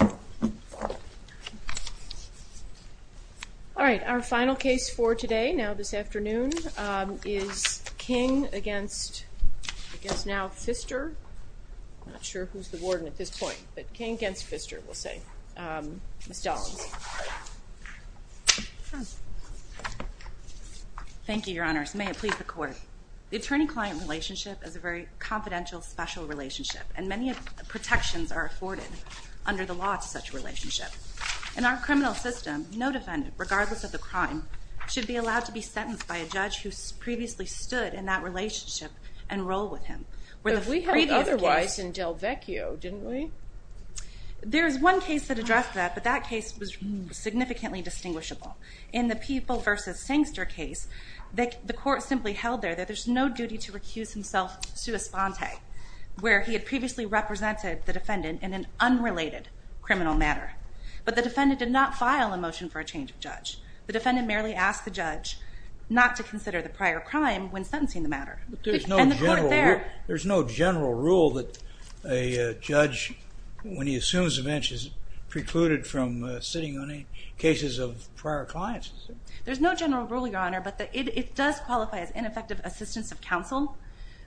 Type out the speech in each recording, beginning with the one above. All right, our final case for today, now this afternoon, is King against, I guess, now Pfister. I'm not sure who's the warden at this point, but King against Pfister, we'll say. Ms. Dollings. Thank you, Your Honors. May it please the Court. The attorney-client relationship is a very protections are afforded under the law to such a relationship. In our criminal system, no defendant, regardless of the crime, should be allowed to be sentenced by a judge who's previously stood in that relationship and roll with him. If we had otherwise in Del Vecchio, didn't we? There's one case that addressed that, but that case was significantly distinguishable. In the People versus Sangster case, the court simply held there that there's no duty to recuse himself where he had previously represented the defendant in an unrelated criminal matter, but the defendant did not file a motion for a change of judge. The defendant merely asked the judge not to consider the prior crime when sentencing the matter. There's no general rule that a judge, when he assumes a bench, is precluded from sitting on any cases of prior clients. There's no general rule, Your Honor, but that it does qualify as ineffective assistance of counsel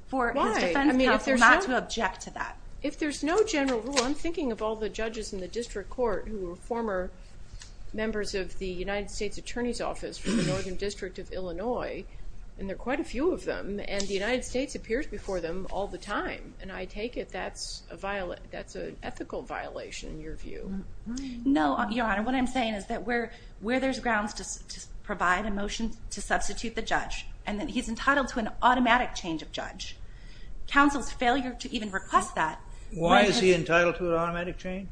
for his defense counsel not to object to that. If there's no general rule, I'm thinking of all the judges in the District Court who were former members of the United States Attorney's Office for the Northern District of Illinois, and there are quite a few of them, and the United States appears before them all the time, and I take it that's an ethical violation in your view. No, Your Honor, what I'm saying is that where there's grounds to provide a motion to substitute the change of judge, counsel's failure to even request that... Why is he entitled to an automatic change?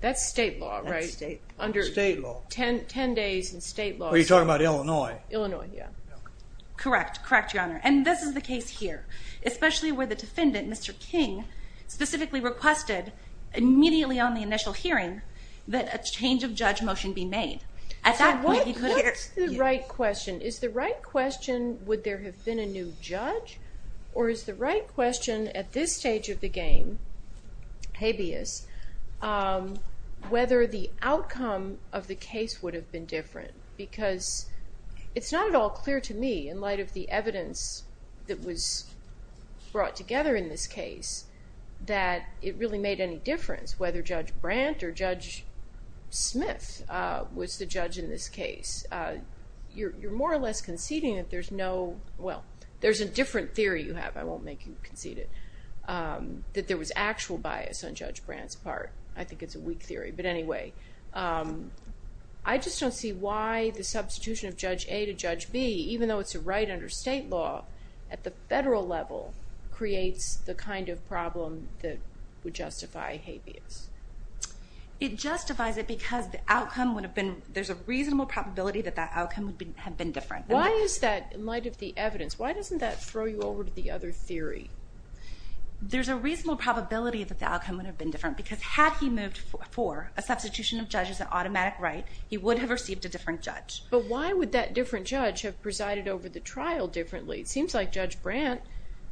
That's state law, right? Under state law. Ten days in state law. Are you talking about Illinois? Illinois, yeah. Correct, correct, Your Honor, and this is the case here, especially where the defendant, Mr. King, specifically requested immediately on the initial hearing that a change of judge motion be made. At that point, he could have... What's the right question? Is the right question, would there have been a new judge, or is the right question at this stage of the game, habeas, whether the outcome of the case would have been different? Because it's not at all clear to me, in light of the evidence that was brought together in this case, that it really made any difference whether Judge Brandt or Judge Smith was the judge in this case. You're more or less conceding that there's no... Well, there's a different theory you have, I won't make you concede it, that there was actual bias on Judge Brandt's part. I think it's a weak theory, but anyway. I just don't see why the substitution of Judge A to Judge B, even though it's a right under state law, at the federal level, creates the kind of problem that would justify habeas. It justifies it because the outcome would have been... There's a reasonable probability that that outcome would have been different. Why is that, in light of the evidence, why doesn't that throw you over to the other theory? There's a reasonable probability that the outcome would have been different, because had he moved for a substitution of judges, an automatic right, he would have received a different judge. But why would that different judge have presided over the trial differently? It seems like Judge Brandt,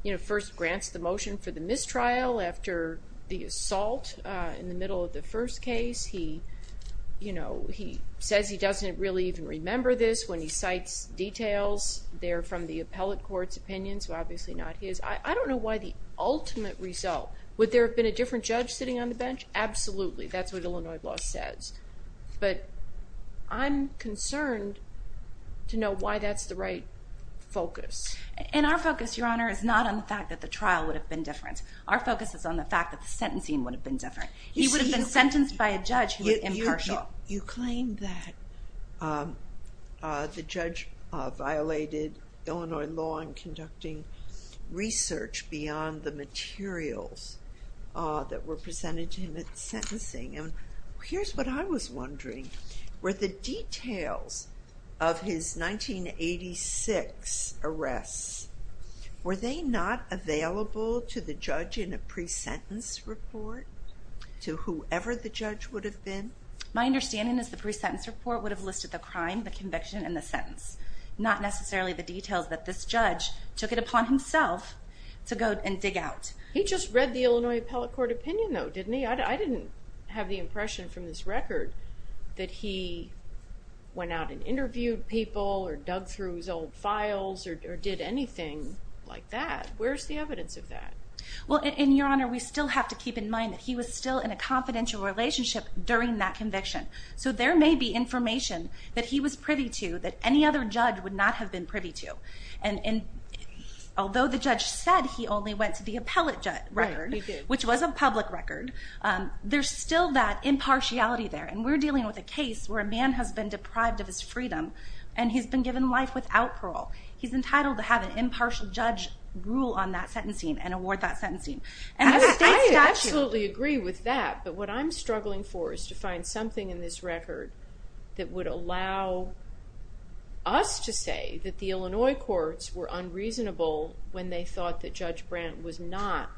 you know, first grants the motion for the mistrial after the assault in the middle of the first case. He, you know, he says he doesn't really even remember this when he cites details. They're from the appellate court's opinions, obviously not his. I don't know why the ultimate result... Would there have been a different judge sitting on the bench? Absolutely. That's what Illinois law says. But I'm concerned to know why that's the right focus. And our focus, Your Honor, is not on the fact that the trial would have been different. Our focus is on the fact that the impartial. You claim that the judge violated Illinois law in conducting research beyond the materials that were presented to him at sentencing. And here's what I was wondering. Were the details of his 1986 arrests, were they not available to the judge in a pre-sentence report? To whoever the judge would have been? My understanding is the pre-sentence report would have listed the crime, the conviction, and the sentence. Not necessarily the details that this judge took it upon himself to go and dig out. He just read the Illinois appellate court opinion though, didn't he? I didn't have the impression from this record that he went out and interviewed people or dug through his old files or did anything like that. Where's the evidence of that? Well, Your Honor, we still have to keep in mind that he was still in a confidential relationship during that conviction. So there may be information that he was privy to that any other judge would not have been privy to. And although the judge said he only went to the appellate record, which was a public record, there's still that impartiality there. And we're dealing with a case where a man has been deprived of his freedom and he's been given life without parole. He's entitled to have an impartial judge rule on that sentencing and award that sentencing. I absolutely agree with that, but what I'm struggling for is to find something in this record that would allow us to say that the Illinois courts were unreasonable when they thought that Judge Brandt was not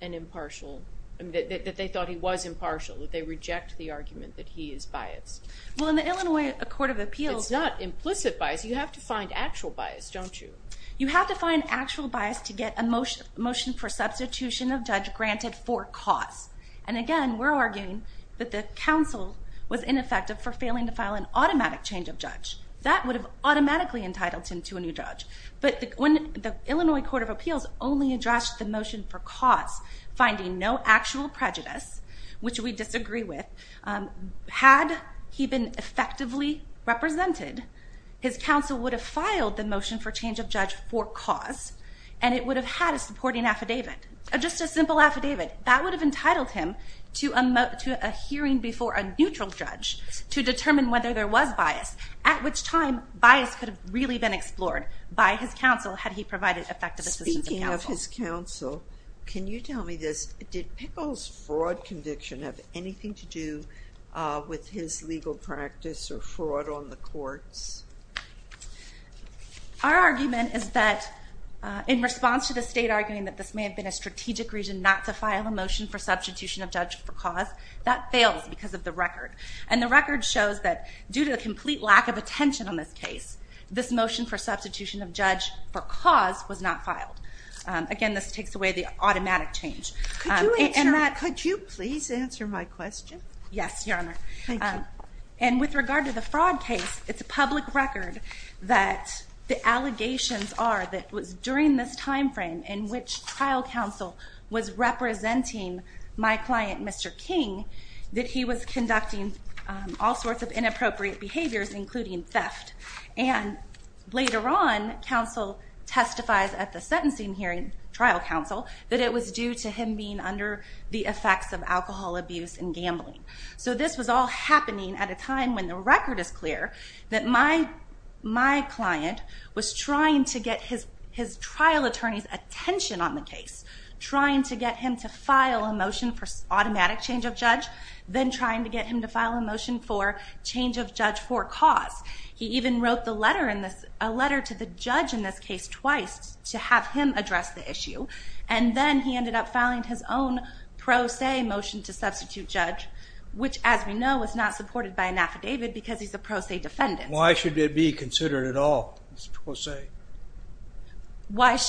an impartial, that they thought he was impartial. They reject the argument that he is biased. Well, in the Illinois Court of Appeals... It's not implicit bias. You have to find actual bias, don't you? You have to find actual bias to get a motion for substitution of judge granted for cause. And again, we're arguing that the counsel was ineffective for failing to file an automatic change of judge. That would have automatically entitled him to a new judge. But when the Illinois Court of Appeals only addressed the motion for cause, finding no actual prejudice, which we disagree with, had he been effectively represented, his counsel would have filed the motion for change of judge for cause, and it would have had a supporting affidavit, just a simple affidavit. That would have entitled him to a hearing before a neutral judge to determine whether there was bias, at which time bias could have really been explored by his counsel had he provided effective assistance. Speaking of his counsel, can you tell me this? Did Pickle's fraud conviction have anything to do with his legal practice or fraud on the courts? Our argument is that in response to the state arguing that this may have been a strategic reason not to file a motion for substitution of judge for cause, that fails because of the record. And the record shows that due to the complete lack of attention on this case, this motion for cause was not filed. Again, this takes away the automatic change. Could you please answer my question? Yes, Your Honor. And with regard to the fraud case, it's a public record that the allegations are that it was during this time frame in which trial counsel was representing my client, Mr. King, that he was conducting all sorts of inappropriate behaviors, including theft. And later on, counsel testifies at the sentencing hearing, trial counsel, that it was due to him being under the effects of alcohol abuse and gambling. So this was all happening at a time when the record is clear that my client was trying to get his trial attorney's attention on the case, trying to get him to file a motion for automatic change of judge, then trying to a letter to the judge in this case twice to have him address the issue. And then he ended up filing his own pro se motion to substitute judge, which, as we know, was not supported by an affidavit because he's a pro se defendant. Why should it be considered at all? It's pro se.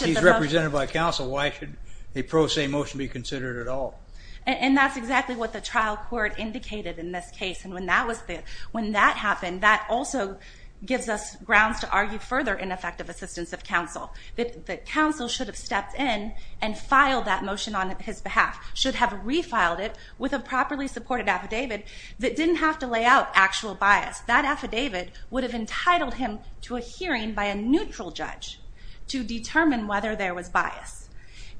He's represented by counsel. Why should a pro se motion be considered at all? And that's exactly what the trial court indicated in this case. And when that happened, that also gives us grounds to argue further ineffective assistance of counsel, that counsel should have stepped in and filed that motion on his behalf, should have refiled it with a properly supported affidavit that didn't have to lay out actual bias. That affidavit would have entitled him to a hearing by a neutral judge to determine whether there was bias.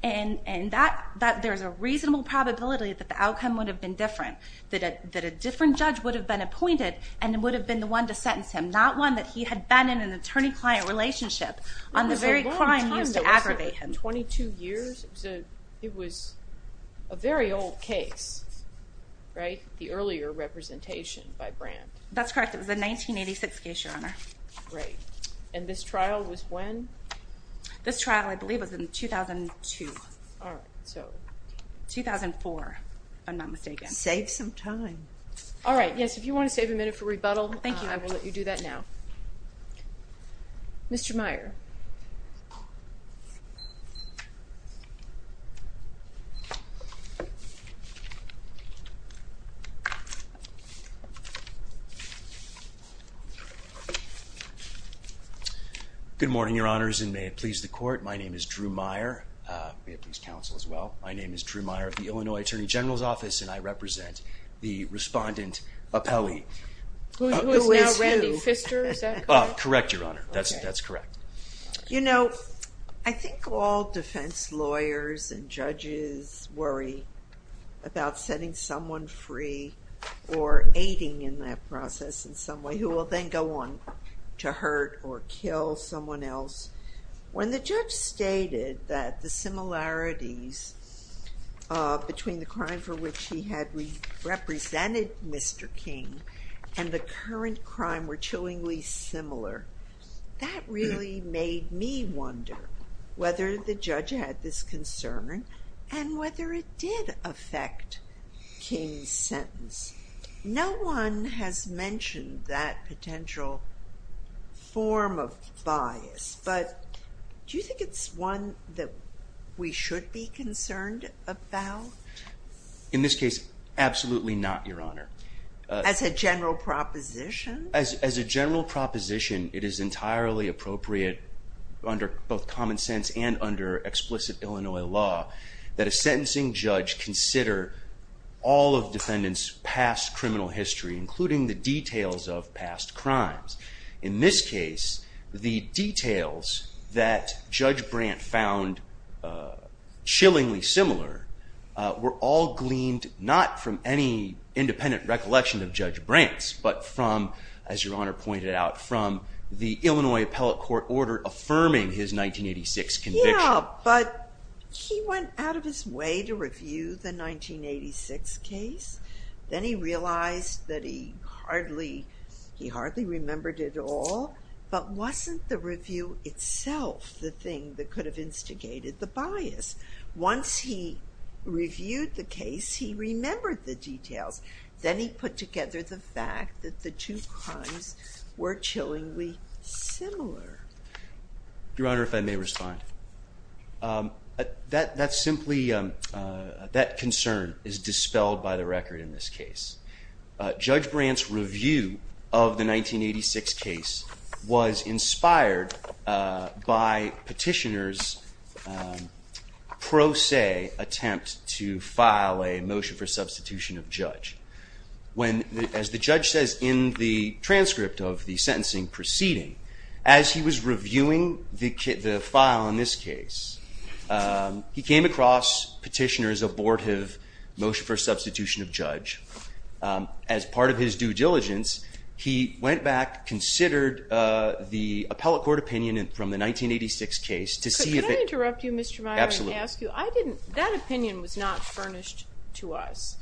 And there's a reasonable probability that the outcome would have been different, that a different judge would have appointed and would have been the one to sentence him, not one that he had been in an attorney-client relationship on the very crime used to aggravate him. It was a very old case, right? The earlier representation by Brandt. That's correct. It was a 1986 case, your honor. Right. And this trial was when? This trial, I believe, was in 2002. All right. So 2004, if I'm not mistaken. Save some time. All right. Yes, if you want to save a minute for rebuttal. Thank you. I will let you do that now. Mr. Meyer. Good morning, your honors, and may it please the court. My name is Drew Meyer. May it please counsel as well. My name is Drew Meyer of the Illinois Attorney General's Office and I represent the respondent appellee. Who is now Randy Pfister, is that correct? Correct, your honor. That's correct. You know, I think all defense lawyers and judges worry about setting someone free or aiding in that process in some way who will then go on to hurt or kill someone else. When the judge stated that the similarities between the crime for which he had represented Mr. King and the current crime were chillingly similar, that really made me wonder whether the judge had this concern and whether it did affect King's sentence. No one has mentioned that potential form of bias, but do you think it's one that we should be concerned about? In this case, absolutely not, your honor. As a general proposition? As a general proposition, it is entirely appropriate under both common sense and under explicit Illinois law that a sentencing In this case, the details that Judge Brandt found chillingly similar were all gleaned not from any independent recollection of Judge Brandt's, but from, as your honor pointed out, from the Illinois Appellate Court Order affirming his 1986 conviction. Yeah, but he went out of his way to review the 1986 case. Then he realized that he hardly remembered it all, but wasn't the review itself the thing that could have instigated the bias. Once he reviewed the case, he remembered the details. Then he put together the fact that the two crimes were chillingly similar. Your honor, if I may by the record in this case. Judge Brandt's review of the 1986 case was inspired by Petitioner's pro se attempt to file a motion for substitution of judge. As the judge says in the transcript of the sentencing proceeding, as he was reviewing the file in this case, he came across Petitioner's motion for substitution of judge. As part of his due diligence, he went back, considered the appellate court opinion from the 1986 case. Could I interrupt you Mr. Meyer and ask you, I didn't, that opinion was not furnished to us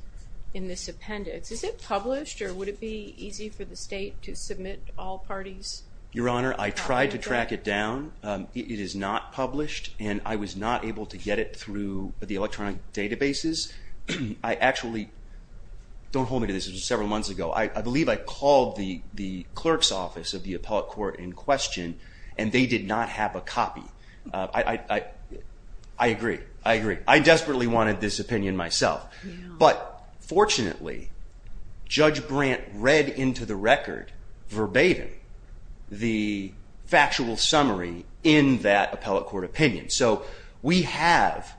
in this appendix. Is it published or would it be easy for the state to submit all parties? Your honor, I tried to track it down. It is not published and I was not able to get it through the electronic databases. I actually, don't hold me to this, it was several months ago. I believe I called the clerk's office of the appellate court in question and they did not have a copy. I agree, I agree. I desperately wanted this opinion myself. But fortunately, Judge Brandt read into the record verbatim the factual summary in that opinion. So we have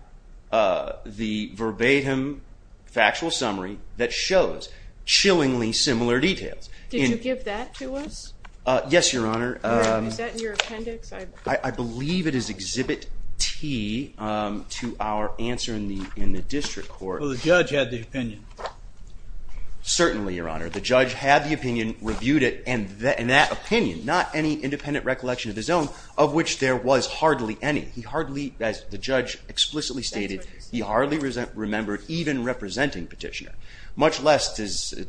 the verbatim factual summary that shows chillingly similar details. Did you give that to us? Yes, your honor. Is that in your appendix? I believe it is Exhibit T to our answer in the district court. So the judge had the opinion? Certainly, your honor. The judge had the opinion, reviewed it, and in that opinion, not any independent recollection of his own, of which there was hardly any. He hardly, as the judge explicitly stated, he hardly remembered even representing petitioner, much less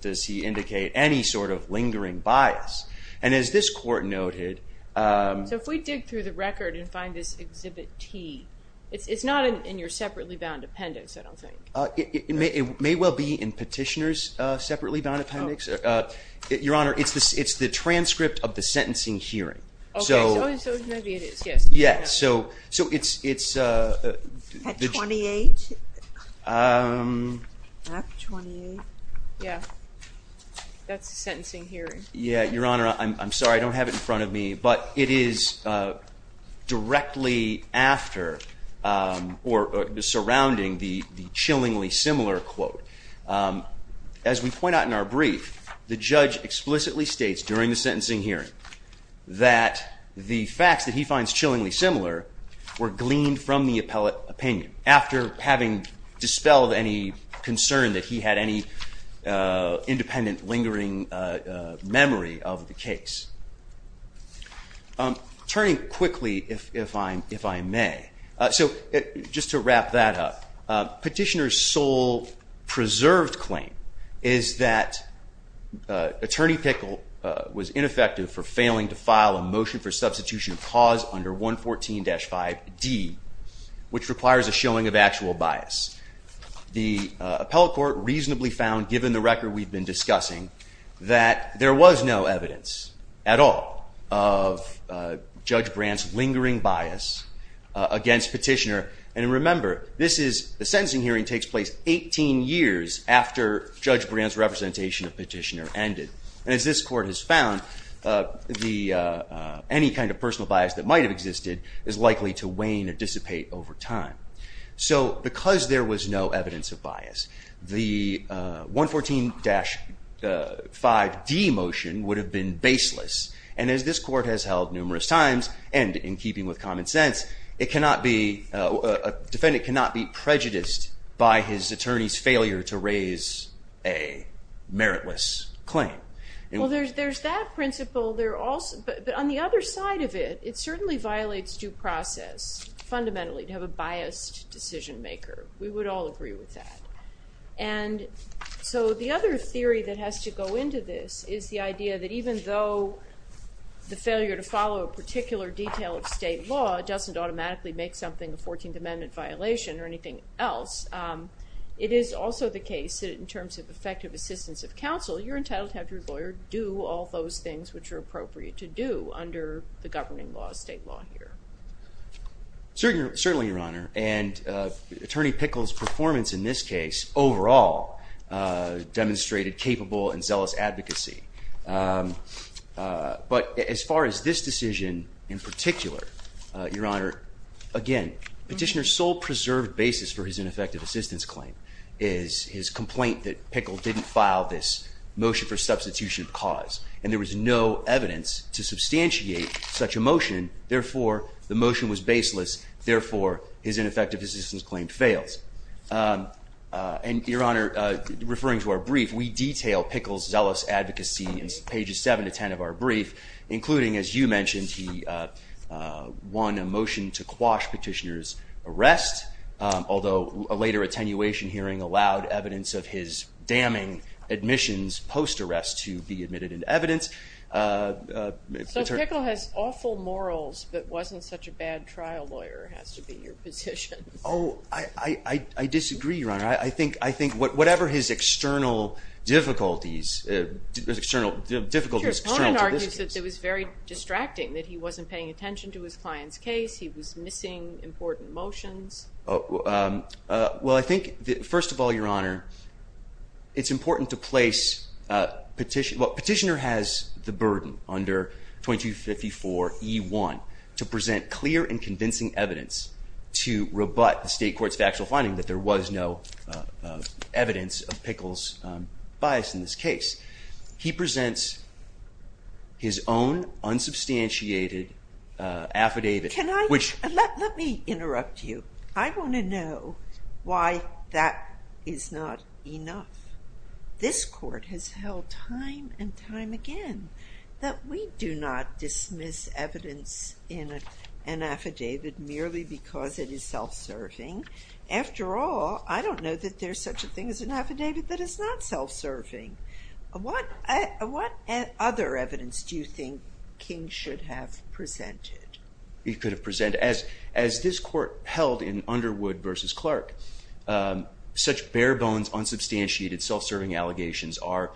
does he indicate any sort of lingering bias. And as this court noted... So if we dig through the record and find this Exhibit T, it's not in your separately bound appendix, I don't think. It may well be in petitioner's separately bound appendix. Your honor, it's the transcript of the sentencing hearing. Okay, so maybe it is, yes. Yes, so it's... At 28? At 28? Yeah, that's the sentencing hearing. Yeah, your honor, I'm sorry, I don't have it in front of me, but it is directly after or surrounding the chillingly similar quote. As we point out in our brief, the judge explicitly states during the sentencing hearing that the facts that he finds chillingly similar were gleaned from the opinion after having dispelled any concern that he had any independent lingering memory of the case. Turning quickly, if I may, so just to wrap that up, petitioner's sole preserved claim is that attorney Pickle was ineffective for failing to file a motion for substitution of cause under 114-5d, which requires a showing of actual bias. The appellate court reasonably found, given the record we've been discussing, that there was no This is... The sentencing hearing takes place 18 years after Judge Brand's representation of petitioner ended, and as this court has found, any kind of personal bias that might have existed is likely to wane or dissipate over time. So because there was no evidence of bias, the 114-5d motion would have been baseless, and as this court has held numerous times, and in keeping with common sense, a defendant cannot be prejudiced by his attorney's failure to raise a meritless claim. Well, there's that principle, but on the other side of it, it certainly violates due process fundamentally to have a biased decision maker. We would all agree with that. And so the other theory that has to go into this is the idea that even though the failure to follow a particular detail of state law doesn't automatically make something a 14th Amendment violation or anything else, it is also the case that in terms of effective assistance of counsel, you're entitled to have your lawyer do all those things which are appropriate to do under the governing law of state law here. Certainly, Your Honor, and Attorney Pickle's advocacy. But as far as this decision in particular, Your Honor, again, Petitioner's sole preserved basis for his ineffective assistance claim is his complaint that Pickle didn't file this motion for substitution of cause, and there was no evidence to substantiate such a motion. Therefore, the motion was baseless. Therefore, his ineffective assistance claim fails. And Your Honor, referring to our brief, we detail Pickle's zealous advocacy in pages 7 to 10 of our brief, including, as you mentioned, he won a motion to quash Petitioner's arrest, although a later attenuation hearing allowed evidence of his damning admissions post-arrest to be admitted into evidence. So Pickle has awful morals, but wasn't such a bad trial lawyer, has to be your Oh, I disagree, Your Honor. I think whatever his external difficulties, external difficulties, Your Honor, it was very distracting that he wasn't paying attention to his client's case, he was missing important motions. Well, I think that first of all, Your Honor, it's important to place Petitioner. Well, Petitioner has the burden under 2254E1 to present clear and convincing evidence to rebut the state court's factual finding that there was no evidence of Pickle's bias in this case. He presents his own unsubstantiated affidavit. Let me interrupt you. I want to know why that is not enough. This court has held time and time in an affidavit merely because it is self-serving. After all, I don't know that there's such a thing as an affidavit that is not self-serving. What other evidence do you think King should have presented? He could have presented, as this court held in Underwood v. Clark, such bare-bones unsubstantiated self-serving allegations are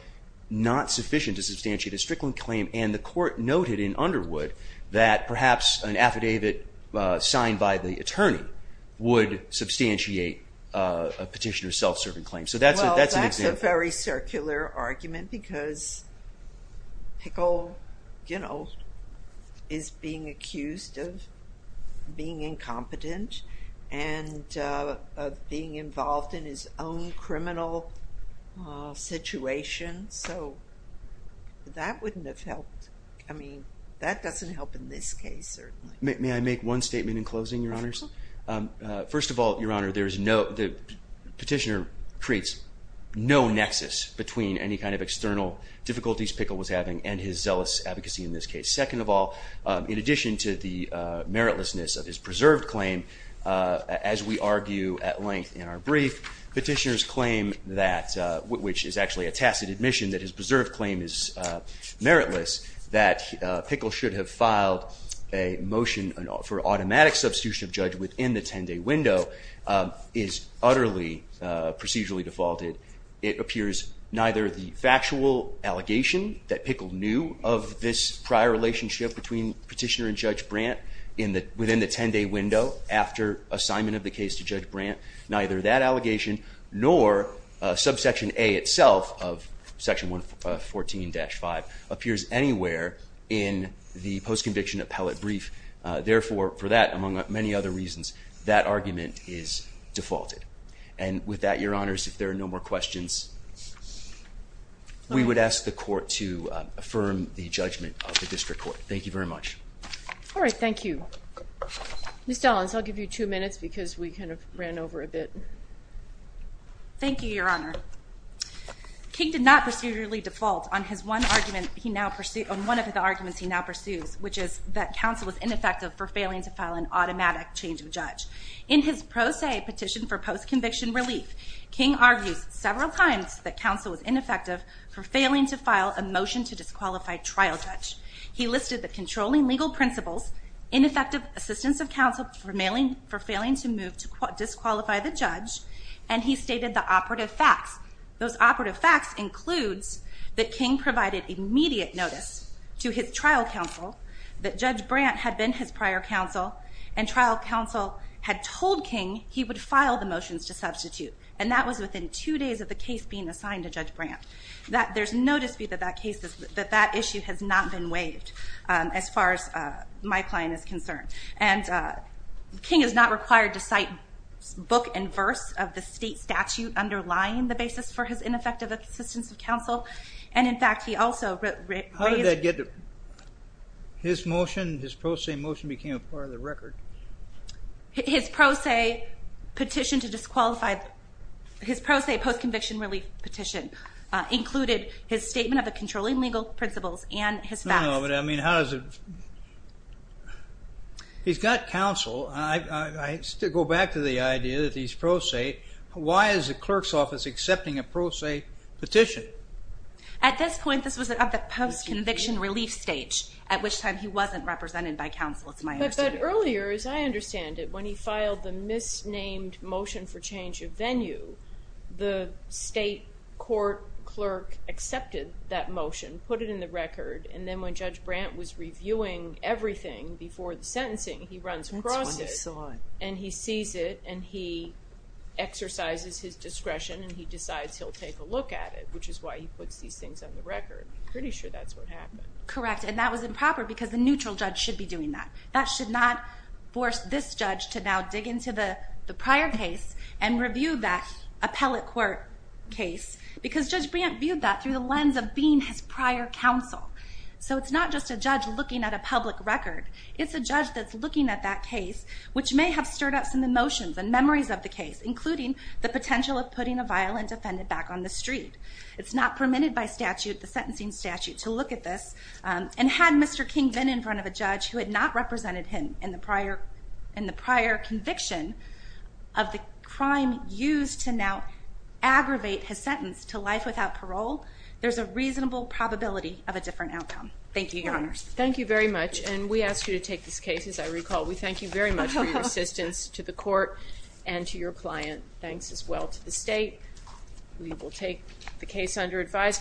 not sufficient to substantiate a Strickland claim, and the court noted in Underwood that perhaps an affidavit signed by the attorney would substantiate a Petitioner's self-serving claim. Well, that's a very circular argument because Pickle, you know, is being accused of being incompetent and of being involved in his own I mean, that doesn't help in this case, certainly. May I make one statement in closing, Your Honors? First of all, Your Honor, the Petitioner creates no nexus between any kind of external difficulties Pickle was having and his zealous advocacy in this case. Second of all, in addition to the meritlessness of his preserved claim, as we argue at length in our brief, Petitioner's claim that, which is actually a tacit admission that his preserved claim is that Pickle should have filed a motion for automatic substitution of judge within the 10-day window is utterly procedurally defaulted. It appears neither the factual allegation that Pickle knew of this prior relationship between Petitioner and Judge Brandt within the 10-day window after assignment of the case to Judge Brandt, neither that allegation nor subsection A itself of section 114-5 appears anywhere in the post-conviction appellate brief. Therefore, for that, among many other reasons, that argument is defaulted. And with that, Your Honors, if there are no more questions, we would ask the Court to affirm the judgment of the District Court. Thank you very much. All right, thank you. Ms. Dallins, I'll give you two minutes because we ran over a bit. Thank you, Your Honor. King did not procedurally default on one of his arguments he now pursues, which is that counsel was ineffective for failing to file an automatic change of judge. In his pro se petition for post-conviction relief, King argues several times that counsel was ineffective for failing to file a motion to disqualify trial judge. He listed the controlling legal principles, ineffective assistance of counsel for failing to move to disqualify the judge, and he stated the operative facts. Those operative facts includes that King provided immediate notice to his trial counsel that Judge Brandt had been his prior counsel, and trial counsel had told King he would file the motions to substitute. And that was within two days of the case being assigned to Judge Brandt. There's no dispute that that issue has not been waived as far as my client is concerned. And King is not required to cite book and verse of the state statute underlying the basis for his ineffective assistance of counsel. And in fact, he also raised... How did that get to... His motion, his pro se motion became a part of the record. His pro se petition to disqualify... His pro se post-conviction relief petition included his controlling legal principles and his facts. No, no, but I mean, how does it... He's got counsel. I still go back to the idea that he's pro se. Why is the clerk's office accepting a pro se petition? At this point, this was at the post-conviction relief stage, at which time he wasn't represented by counsel, it's my understanding. But earlier, as I understand it, when he filed the misnamed motion for change of venue, the state court clerk accepted that motion, put it in the record, and then when Judge Brandt was reviewing everything before the sentencing, he runs across it and he sees it and he exercises his discretion and he decides he'll take a look at it, which is why he puts these things on the record. Pretty sure that's what happened. Correct. And that was improper because the neutral judge should be doing that. That should not force this judge to now dig into the prior case and review that appellate court case, because Judge Brandt viewed that through the lens of being his prior counsel. So it's not just a judge looking at a public record, it's a judge that's looking at that case, which may have stirred up some emotions and memories of the case, including the potential of putting a violent defendant back on the street. It's not permitted by statute, the sentencing statute, to look at this and had Mr. King been in front of a judge who had not represented him in the prior conviction of the crime used to now aggravate his sentence to life without parole, there's a reasonable probability of a different outcome. Thank you, Your Honors. Thank you very much and we ask you to take this case, as I recall. We thank you very much for your assistance to the court and to your client. Thanks as well to the state. We will take the case under advisement.